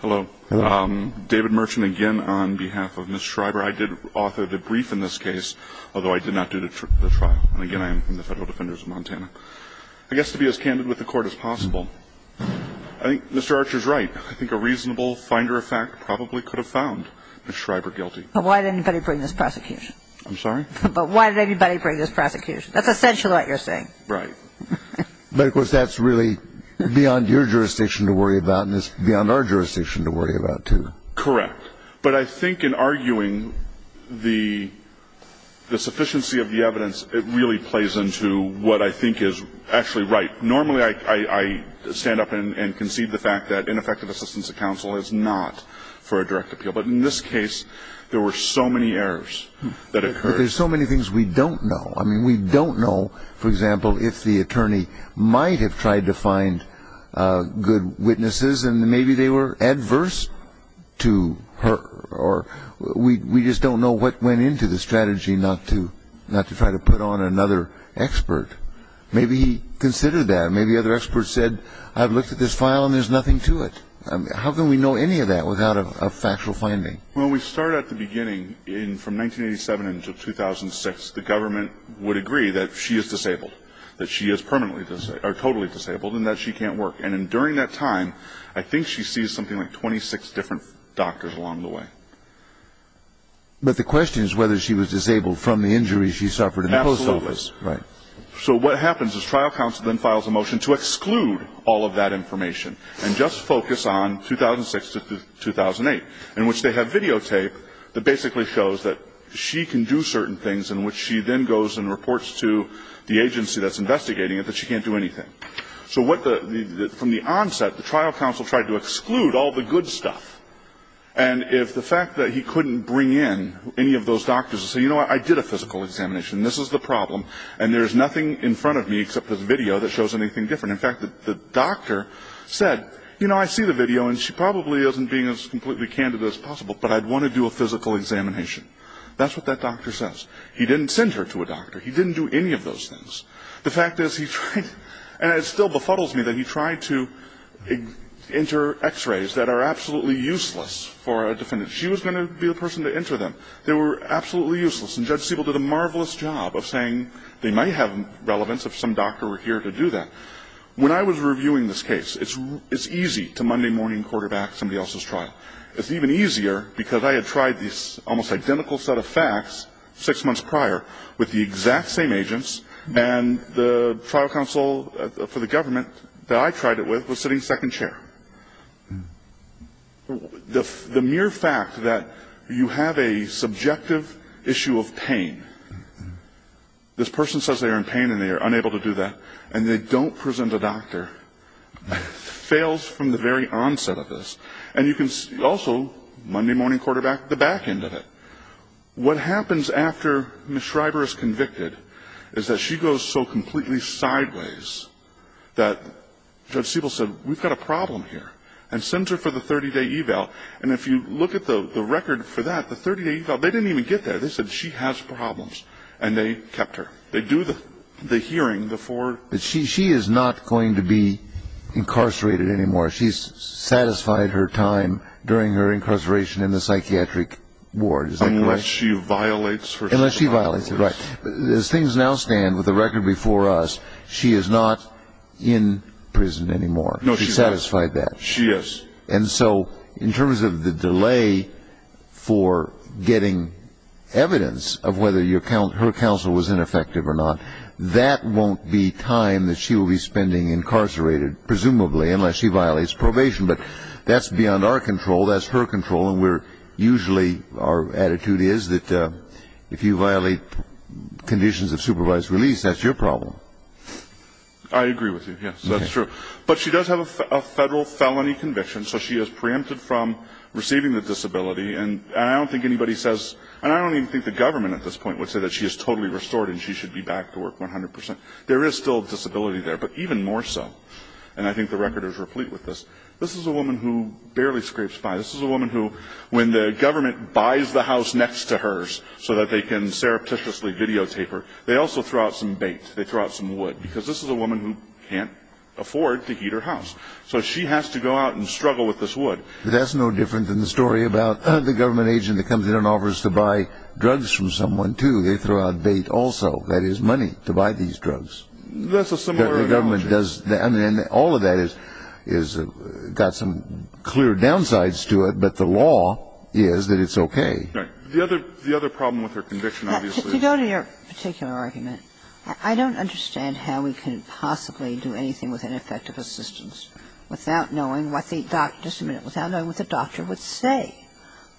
Hello. David Merchant again on behalf of Ms. Schreiber. I did author the brief in this case, although I did not do the trial. And again, I am from the Federal Defenders of Montana. I guess to be as candid with the Court as possible, I think Mr. Archer is right. I think a reasonable finder of fact probably could have found Ms. Schreiber guilty. But why did anybody bring this prosecution? I'm sorry? But why did anybody bring this prosecution? That's essentially what you're saying. Right. But of course, that's really beyond your jurisdiction to worry about, and it's beyond our jurisdiction to worry about, too. Correct. But I think in arguing the sufficiency of the evidence, it really plays into what I think is actually right. Normally, I stand up and concede the fact that ineffective assistance to counsel is not for a direct appeal. But in this case, there were so many errors that occurred. But there's so many things we don't know. I mean, we don't know, for example, if the attorney might have tried to find good witnesses, and maybe they were adverse to her. Or we just don't know what went into the strategy not to try to put on another expert. Maybe he considered that. Maybe other experts said, I've looked at this file, and there's nothing to it. How can we know any of that without a factual finding? Well, when we start at the beginning, from 1987 until 2006, the government would agree that she is disabled, that she is permanently disabled, or totally disabled, and that she can't work. And during that time, I think she sees something like 26 different doctors along the way. But the question is whether she was disabled from the injuries she suffered in the post office. Absolutely. Right. So what happens is trial counsel then files a motion to exclude all of that information and just focus on 2006 to 2008, in which they have videotape that basically shows that she can do certain things, in which she then goes and reports to the agency that's investigating it that she can't do anything. So from the onset, the trial counsel tried to exclude all the good stuff. And if the fact that he couldn't bring in any of those doctors and say, you know what, I did a physical examination, this is the problem, and there's nothing in front of me except this video that shows anything different. In fact, the doctor said, you know, I see the video, and she probably isn't being as completely candid as possible, but I'd want to do a physical examination. That's what that doctor says. He didn't send her to a doctor. He didn't do any of those things. The fact is he tried, and it still befuddles me that he tried to enter X-rays that are absolutely useless for a defendant. She was going to be the person to enter them. They were absolutely useless. And Judge Siebel did a marvelous job of saying they might have relevance if some doctor were here to do that. When I was reviewing this case, it's easy to Monday morning quarterback somebody else's trial. It's even easier because I had tried this almost identical set of facts six months prior with the exact same agents, and the trial counsel for the government that I tried it with was sitting second chair. The mere fact that you have a subjective issue of pain, this person says they are in pain and they are unable to do that, and they don't present a doctor fails from the very onset of this. And you can also, Monday morning quarterback, the back end of it. What happens after Ms. Schreiber is convicted is that she goes so completely sideways that Judge Siebel said, we've got a problem here, and sends her for the 30-day eval. And if you look at the record for that, the 30-day eval, they didn't even get there. They said she has problems, and they kept her. They do the hearing, the four. She is not going to be incarcerated anymore. She's satisfied her time during her incarceration in the psychiatric ward. Unless she violates herself. Unless she violates herself, right. As things now stand with the record before us, she is not in prison anymore. She's satisfied that. She is. And so in terms of the delay for getting evidence of whether her counsel was ineffective or not, that won't be time that she will be spending incarcerated, presumably, unless she violates probation. But that's beyond our control. That's her control. Usually our attitude is that if you violate conditions of supervised release, that's your problem. I agree with you. Yes, that's true. But she does have a federal felony conviction, so she is preempted from receiving the disability. And I don't think anybody says, and I don't even think the government at this point would say that she is totally restored and she should be back to work 100%. There is still a disability there, but even more so. And I think the record is replete with this. This is a woman who barely scrapes by. This is a woman who, when the government buys the house next to hers so that they can surreptitiously videotape her, they also throw out some bait. They throw out some wood because this is a woman who can't afford to heat her house. So she has to go out and struggle with this wood. That's no different than the story about the government agent that comes in and offers to buy drugs from someone, too. They throw out bait also, that is money, to buy these drugs. That's a similar analogy. All of that has got some clear downsides to it, but the law is that it's okay. Right. The other problem with her conviction, obviously is that the government agent can't afford to heat her house. Now, to go to your particular argument, I don't understand how we can possibly do anything with ineffective assistance without knowing what the doctor, just a minute, without knowing what the doctor would say.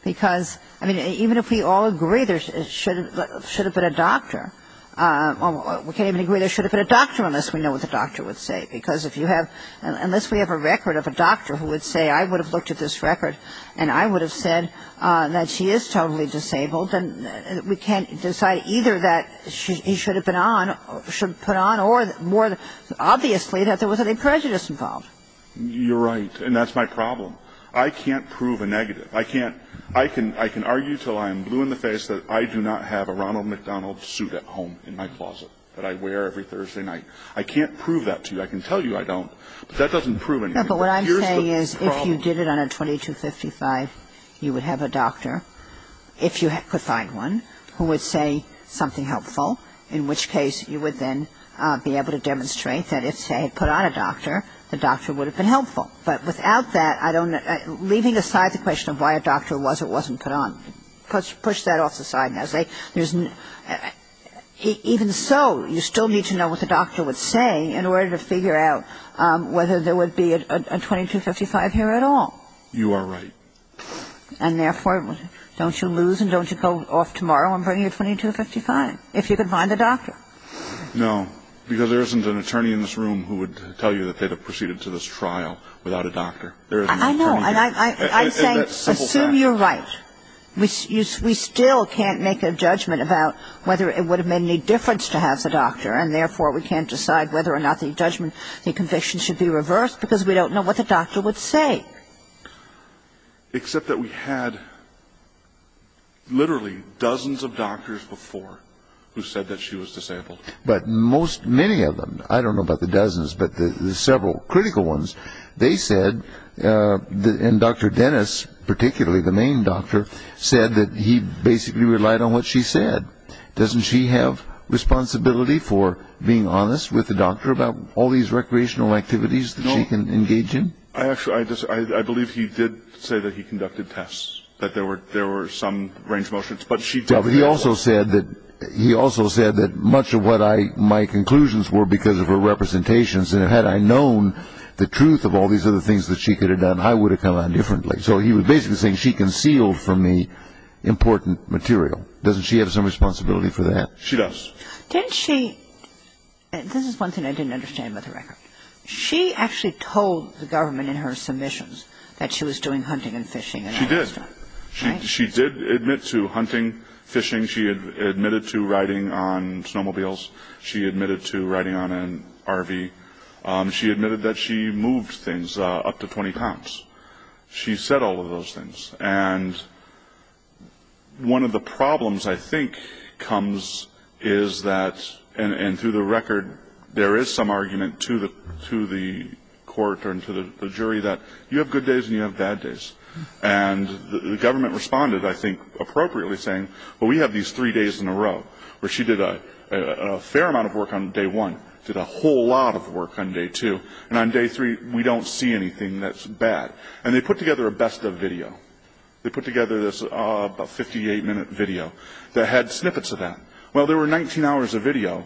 Because, I mean, even if we all agree there should have been a doctor, we can't even agree there should have been a doctor unless we know what the doctor would say. Because if you have, unless we have a record of a doctor who would say, I would have looked at this record and I would have said that she is totally disabled, then we can't decide either that she should have been on, should have been put on, or more obviously that there was any prejudice involved. You're right, and that's my problem. I can't prove a negative. I can't, I can argue until I am blue in the face that I do not have a Ronald McDonald suit at home in my closet that I wear every Thursday night. I can't prove that to you. I can tell you I don't. But that doesn't prove anything. But here's the problem. But what I'm saying is if you did it on a 2255, you would have a doctor, if you could find one, who would say something helpful, in which case you would then be able to demonstrate that if they had put on a doctor, the doctor would have been helpful. But without that, I don't, leaving aside the question of why a doctor was or wasn't put on, push that off the side now. Even so, you still need to know what the doctor was saying in order to figure out whether there would be a 2255 here at all. You are right. And therefore, don't you lose and don't you go off tomorrow and bring your 2255, if you could find a doctor. No, because there isn't an attorney in this room who would tell you that they'd have proceeded to this trial without a doctor. I know, and I say assume you're right. We still can't make a judgment about whether it would have made any difference to have the doctor, and therefore we can't decide whether or not the judgment, the conviction should be reversed because we don't know what the doctor would say. Except that we had literally dozens of doctors before who said that she was disabled. But most, many of them, I don't know about the dozens, but the several critical ones, they said, and Dr. Dennis, particularly the main doctor, said that he basically relied on what she said. Doesn't she have responsibility for being honest with the doctor about all these recreational activities that she can engage in? No, I believe he did say that he conducted tests, that there were some range motions. He also said that much of what my conclusions were because of her representations, that had I known the truth of all these other things that she could have done, I would have come out differently. So he was basically saying she concealed from me important material. Doesn't she have some responsibility for that? She does. Didn't she? This is one thing I didn't understand about the record. She actually told the government in her submissions that she was doing hunting and fishing. She did. She did admit to hunting, fishing. She admitted to riding on snowmobiles. She admitted to riding on an RV. She admitted that she moved things up to 20 pounds. She said all of those things. And one of the problems I think comes is that, and through the record, there is some argument to the court or to the jury that you have good days and you have bad days. And the government responded, I think appropriately, saying, Well, we have these three days in a row where she did a fair amount of work on day one, did a whole lot of work on day two, and on day three we don't see anything that's bad. And they put together a best of video. They put together this 58-minute video that had snippets of that. Well, there were 19 hours of video.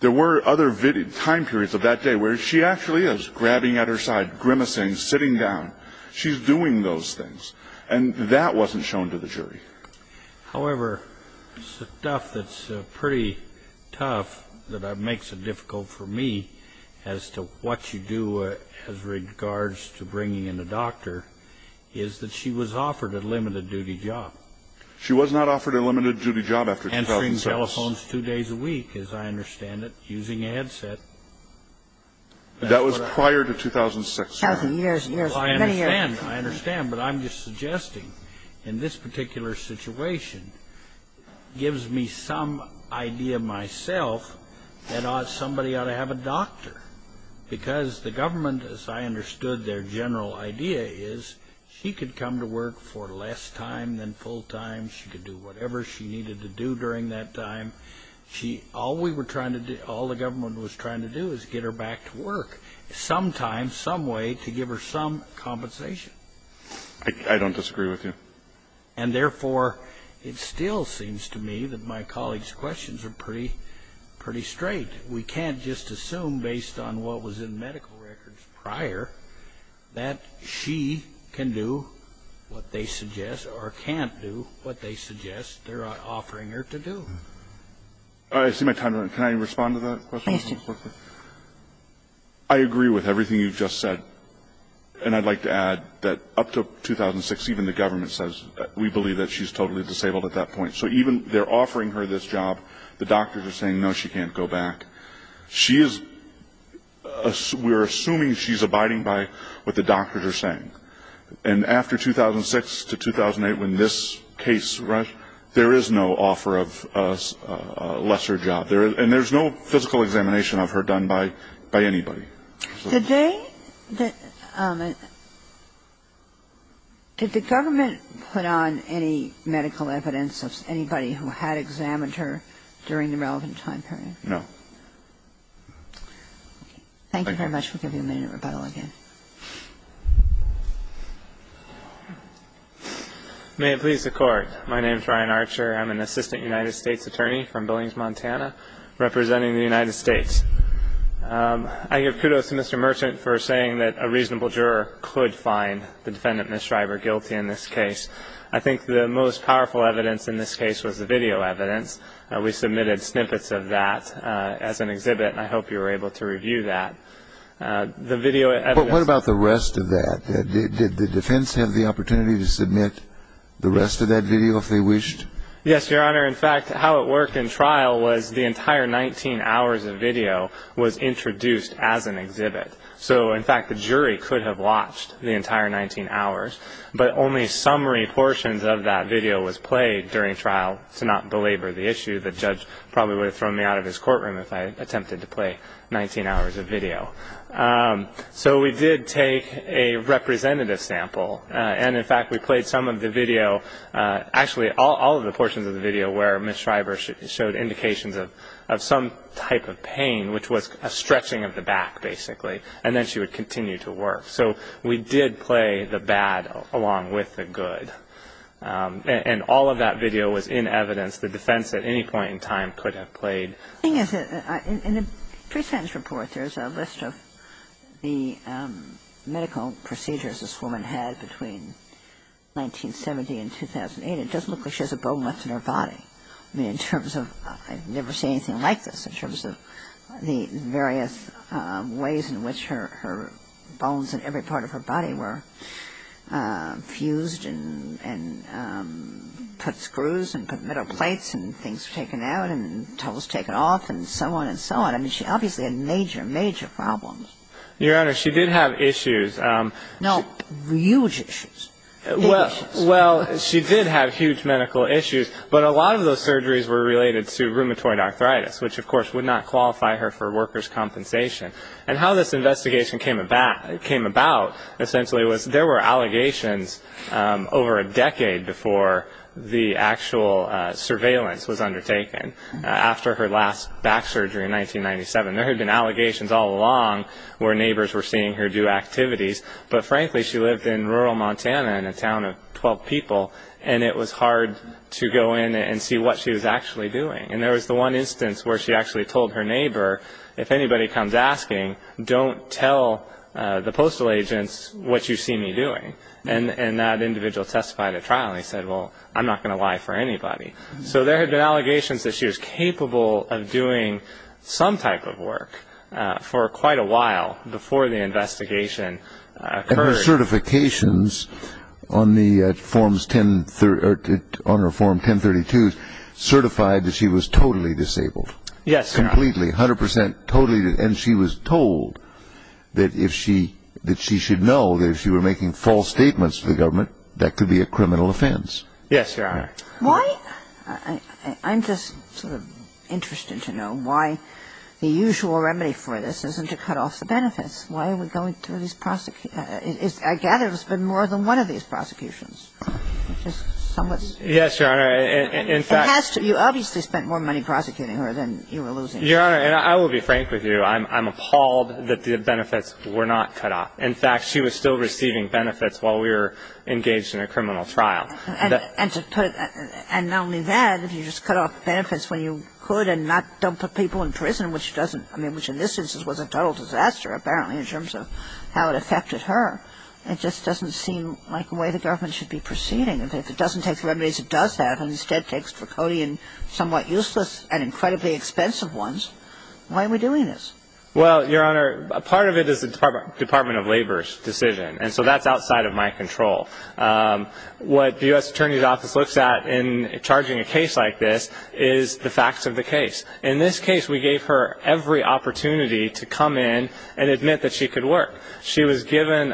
There were other time periods of that day where she actually is grabbing at her side, grimacing, sitting down. She's doing those things. And that wasn't shown to the jury. However, stuff that's pretty tough that makes it difficult for me as to what you do as regards to bringing in a doctor is that she was offered a limited-duty job. She was not offered a limited-duty job after 2006. And seeing telephones two days a week, as I understand it, using a headset. That was prior to 2006. Thousand years, years, many years. I understand. I understand. But I'm just suggesting in this particular situation gives me some idea myself that somebody ought to have a doctor. Because the government, as I understood their general idea, is she could come to work for less time than full time. She could do whatever she needed to do during that time. All we were trying to do, all the government was trying to do is get her back to work. Sometimes, some way to give her some compensation. I don't disagree with you. And, therefore, it still seems to me that my colleague's questions are pretty straight. We can't just assume based on what was in medical records prior that she can do what they suggest or can't do what they suggest they're offering her to do. I see my time running. Can I respond to that question? Please do. I agree with everything you've just said. And I'd like to add that up to 2006, even the government says we believe that she's totally disabled at that point. So even they're offering her this job, the doctors are saying, no, she can't go back. We're assuming she's abiding by what the doctors are saying. And after 2006 to 2008, when this case rushed, there is no offer of a lesser job. And there's no physical examination of her done by anybody. Did the government put on any medical evidence of anybody who had examined her during the relevant time period? No. Thank you very much. We'll give you a minute of rebuttal again. May it please the Court. My name is Ryan Archer. I'm an assistant United States attorney from Billings, Montana, representing the United States. I give kudos to Mr. Merchant for saying that a reasonable juror could find the defendant, Ms. Shriver, guilty in this case. I think the most powerful evidence in this case was the video evidence. We submitted snippets of that as an exhibit, and I hope you were able to review that. But what about the rest of that? Did the defense have the opportunity to submit the rest of that video if they wished? Yes, Your Honor. In fact, how it worked in trial was the entire 19 hours of video was introduced as an exhibit. So, in fact, the jury could have watched the entire 19 hours, but only summary portions of that video was played during trial to not belabor the issue. The judge probably would have thrown me out of his courtroom if I attempted to play 19 hours of video. So we did take a representative sample, and, in fact, we played some of the video. Actually, all of the portions of the video where Ms. Shriver showed indications of some type of pain, which was a stretching of the back, basically, and then she would continue to work. So we did play the bad along with the good. And all of that video was in evidence. The defense at any point in time could have played. The thing is, in the pre-sentence report, there's a list of the medical procedures this woman had between 1970 and 2008. It doesn't look like she has a bone left in her body. I mean, in terms of – I've never seen anything like this in terms of the various ways in which her bones and every part of her body were fused and put screws and put metal plates and things taken out and towels taken off and so on and so on. I mean, she obviously had major, major problems. Your Honor, she did have issues. No, huge issues. Well, she did have huge medical issues, but a lot of those surgeries were related to rheumatoid arthritis, which, of course, would not qualify her for workers' compensation. And how this investigation came about, essentially, there were allegations over a decade before the actual surveillance was undertaken. After her last back surgery in 1997, there had been allegations all along where neighbors were seeing her do activities. But, frankly, she lived in rural Montana in a town of 12 people, and it was hard to go in and see what she was actually doing. And there was the one instance where she actually told her neighbor, if anybody comes asking, don't tell the postal agents what you see me doing. And that individual testified at trial, and he said, well, I'm not going to lie for anybody. So there had been allegations that she was capable of doing some type of work for quite a while before the investigation occurred. And her certifications on her Form 1032 certified that she was totally disabled. Yes, Your Honor. Completely, 100 percent, totally disabled. And she was told that if she – that she should know that if she were making false statements to the government, that could be a criminal offense. Yes, Your Honor. Why – I'm just sort of interested to know why the usual remedy for this isn't to cut off the benefits. Why are we going through these – I gather it's been more than one of these prosecutions. Yes, Your Honor. You obviously spent more money prosecuting her than you were losing. Your Honor, and I will be frank with you. I'm appalled that the benefits were not cut off. In fact, she was still receiving benefits while we were engaged in a criminal trial. And to put – and not only that, if you just cut off benefits when you could and not – don't put people in prison, which doesn't – I mean, which in this instance was a total disaster, apparently, in terms of how it affected her. It just doesn't seem like the way the government should be proceeding. If it doesn't take the remedies it does have and instead takes draconian, somewhat useless, and incredibly expensive ones, why are we doing this? Well, Your Honor, part of it is the Department of Labor's decision. And so that's outside of my control. What the U.S. Attorney's Office looks at in charging a case like this is the facts of the case. In this case, we gave her every opportunity to come in and admit that she could work. That was in 2000.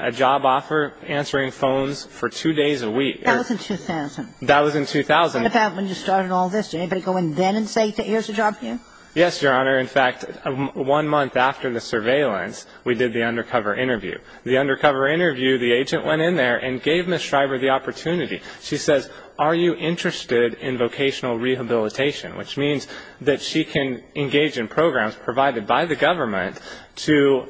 That was in 2000. And about when you started all this, did anybody go in then and say, here's a job for you? Yes, Your Honor. In fact, one month after the surveillance, we did the undercover interview. The undercover interview, the agent went in there and gave Ms. Shriver the opportunity. She says, are you interested in vocational rehabilitation, which means that she can engage in programs provided by the government to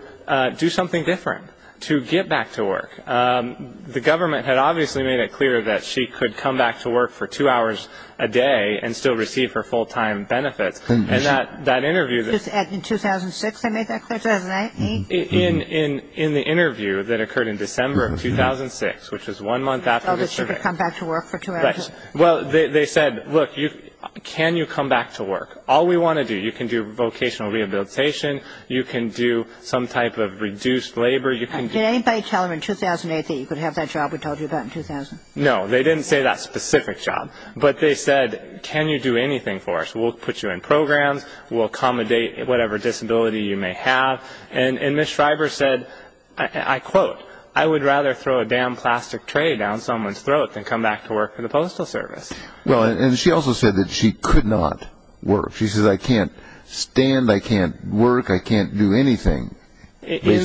do something different, to get back to work. The government had obviously made it clear that she could come back to work for two hours a day and still receive her full-time benefits. And that interview that ---- In 2006 they made that clear? In the interview that occurred in December of 2006, which was one month after the surveillance. Oh, that she could come back to work for two hours a day. Well, they said, look, can you come back to work? All we want to do, you can do vocational rehabilitation, you can do some type of reduced labor, you can do ---- Did anybody tell her in 2008 that you could have that job we told you about in 2000? No, they didn't say that specific job. But they said, can you do anything for us? We'll put you in programs, we'll accommodate whatever disability you may have. And Ms. Shriver said, I quote, I would rather throw a damn plastic tray down someone's throat than come back to work for the Postal Service. Well, and she also said that she could not work. She says, I can't stand, I can't work, I can't do anything. Yes,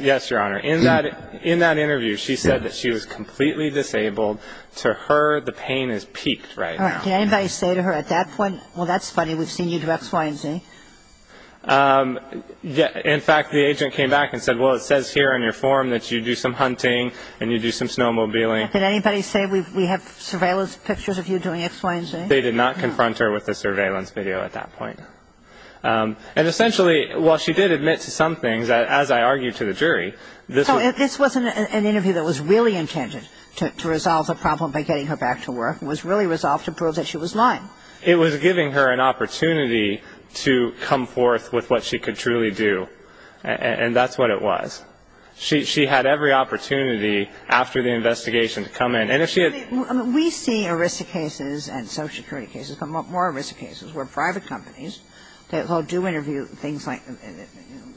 yes, Your Honor. In that interview, she said that she was completely disabled. To her, the pain is piqued right now. Did anybody say to her at that point, well, that's funny, we've seen you do X, Y, and Z? In fact, the agent came back and said, well, it says here on your form that you do some hunting and you do some snowmobiling. Did anybody say we have surveillance pictures of you doing X, Y, and Z? They did not confront her with the surveillance video at that point. And essentially, while she did admit to some things, as I argued to the jury, this was... So this wasn't an interview that was really intended to resolve the problem by getting her back to work. It was really resolved to prove that she was lying. It was giving her an opportunity to come forth with what she could truly do. And that's what it was. She had every opportunity after the investigation to come in. And if she had... We see ERISA cases and social security cases, but more ERISA cases where private companies, they'll do interview things like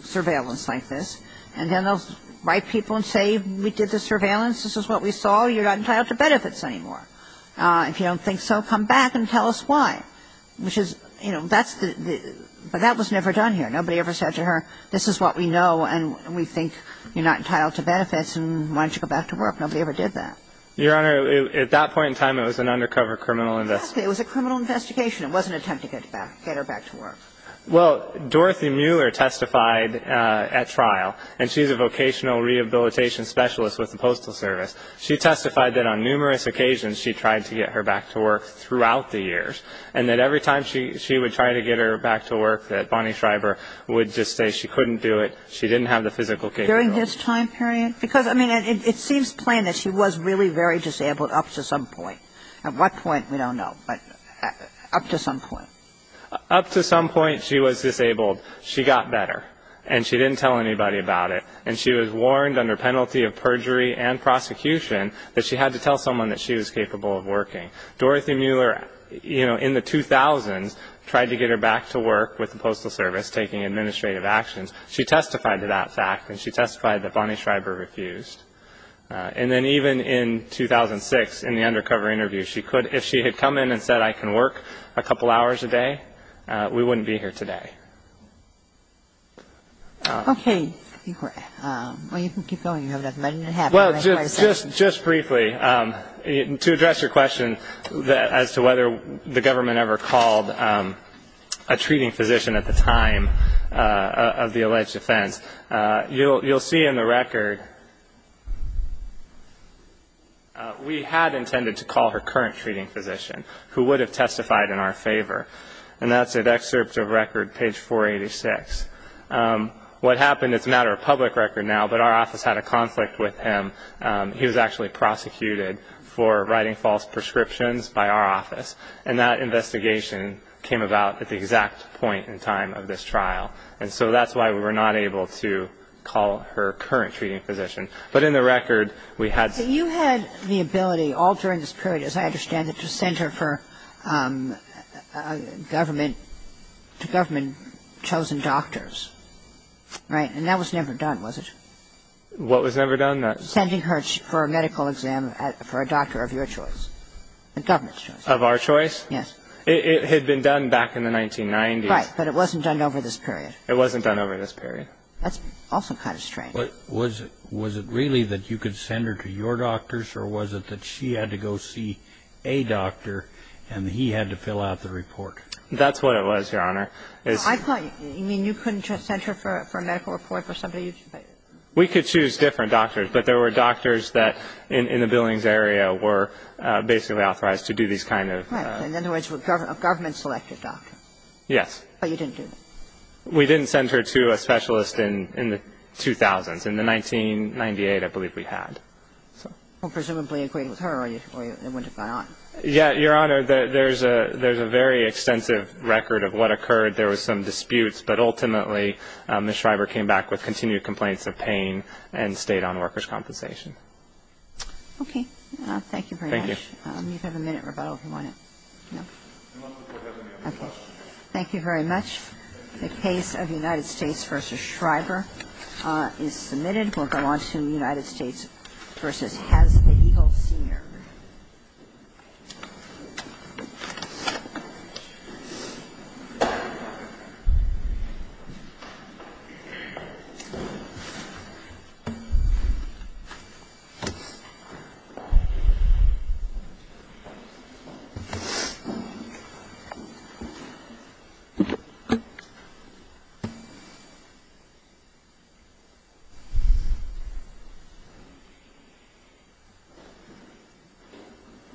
surveillance like this, and then they'll write people and say, we did the surveillance, this is what we saw, you're not entitled to benefits anymore. If you don't think so, come back and tell us why. Which is, you know, that's the... But that was never done here. Nobody ever said to her, this is what we know, and we think you're not entitled to benefits, and why don't you go back to work? Nobody ever did that. Your Honor, at that point in time, it was an undercover criminal investigation. Exactly. It was a criminal investigation. It wasn't an attempt to get her back to work. Well, Dorothy Mueller testified at trial, and she's a vocational rehabilitation specialist with the Postal Service. She testified that on numerous occasions she tried to get her back to work throughout the years, and that every time she would try to get her back to work, that Bonnie Schreiber would just say she couldn't do it, she didn't have the physical capability. During this time period? Because, I mean, it seems plain that she was really very disabled up to some point. At what point, we don't know. But up to some point. Up to some point, she was disabled. She got better. And she didn't tell anybody about it. And she was warned under penalty of perjury and prosecution that she had to tell someone that she was capable of working. Dorothy Mueller, you know, in the 2000s, tried to get her back to work with the Postal Service, taking administrative actions. She testified to that fact, and she testified that Bonnie Schreiber refused. And then even in 2006, in the undercover interview, she could, if she had come in and said I can work a couple hours a day, we wouldn't be here today. Okay. Well, you can keep going. You have another minute and a half. Well, just briefly, to address your question as to whether the government ever called a treating physician at the time of the alleged offense. You'll see in the record, we had intended to call her current treating physician, who would have testified in our favor. And that's at excerpt of record, page 486. What happened, it's not a public record now, but our office had a conflict with him. He was actually prosecuted for writing false prescriptions by our office. And that investigation came about at the exact point in time of this trial. And so that's why we were not able to call her current treating physician. But in the record, we had to. So you had the ability all during this period, as I understand it, to send her to government chosen doctors, right? And that was never done, was it? What was never done? Sending her for a medical exam for a doctor of your choice, the government's choice. Of our choice? Yes. It had been done back in the 1990s. Right. But it wasn't done over this period. It wasn't done over this period. That's also kind of strange. But was it really that you could send her to your doctors, or was it that she had to go see a doctor, and he had to fill out the report? That's what it was, Your Honor. I thought you mean you couldn't just send her for a medical report for somebody you chose? We could choose different doctors, but there were doctors that in the Billings area were basically authorized to do these kind of things. Right. In other words, a government-selected doctor. Yes. But you didn't do that? We didn't send her to a specialist in the 2000s. In the 1998, I believe, we had. So presumably you agreed with her, or it wouldn't have gone on. Yeah, Your Honor, there's a very extensive record of what occurred. There were some disputes, but ultimately Ms. Schreiber came back with continued complaints of pain and stayed on workers' compensation. Okay. Thank you very much. Thank you. You can have a minute rebuttal if you want to. No? No. Okay. Thank you very much. The case of United States v. Schreiber is submitted. We'll go on to United States v. Has the Eagle, Sr. Thank you.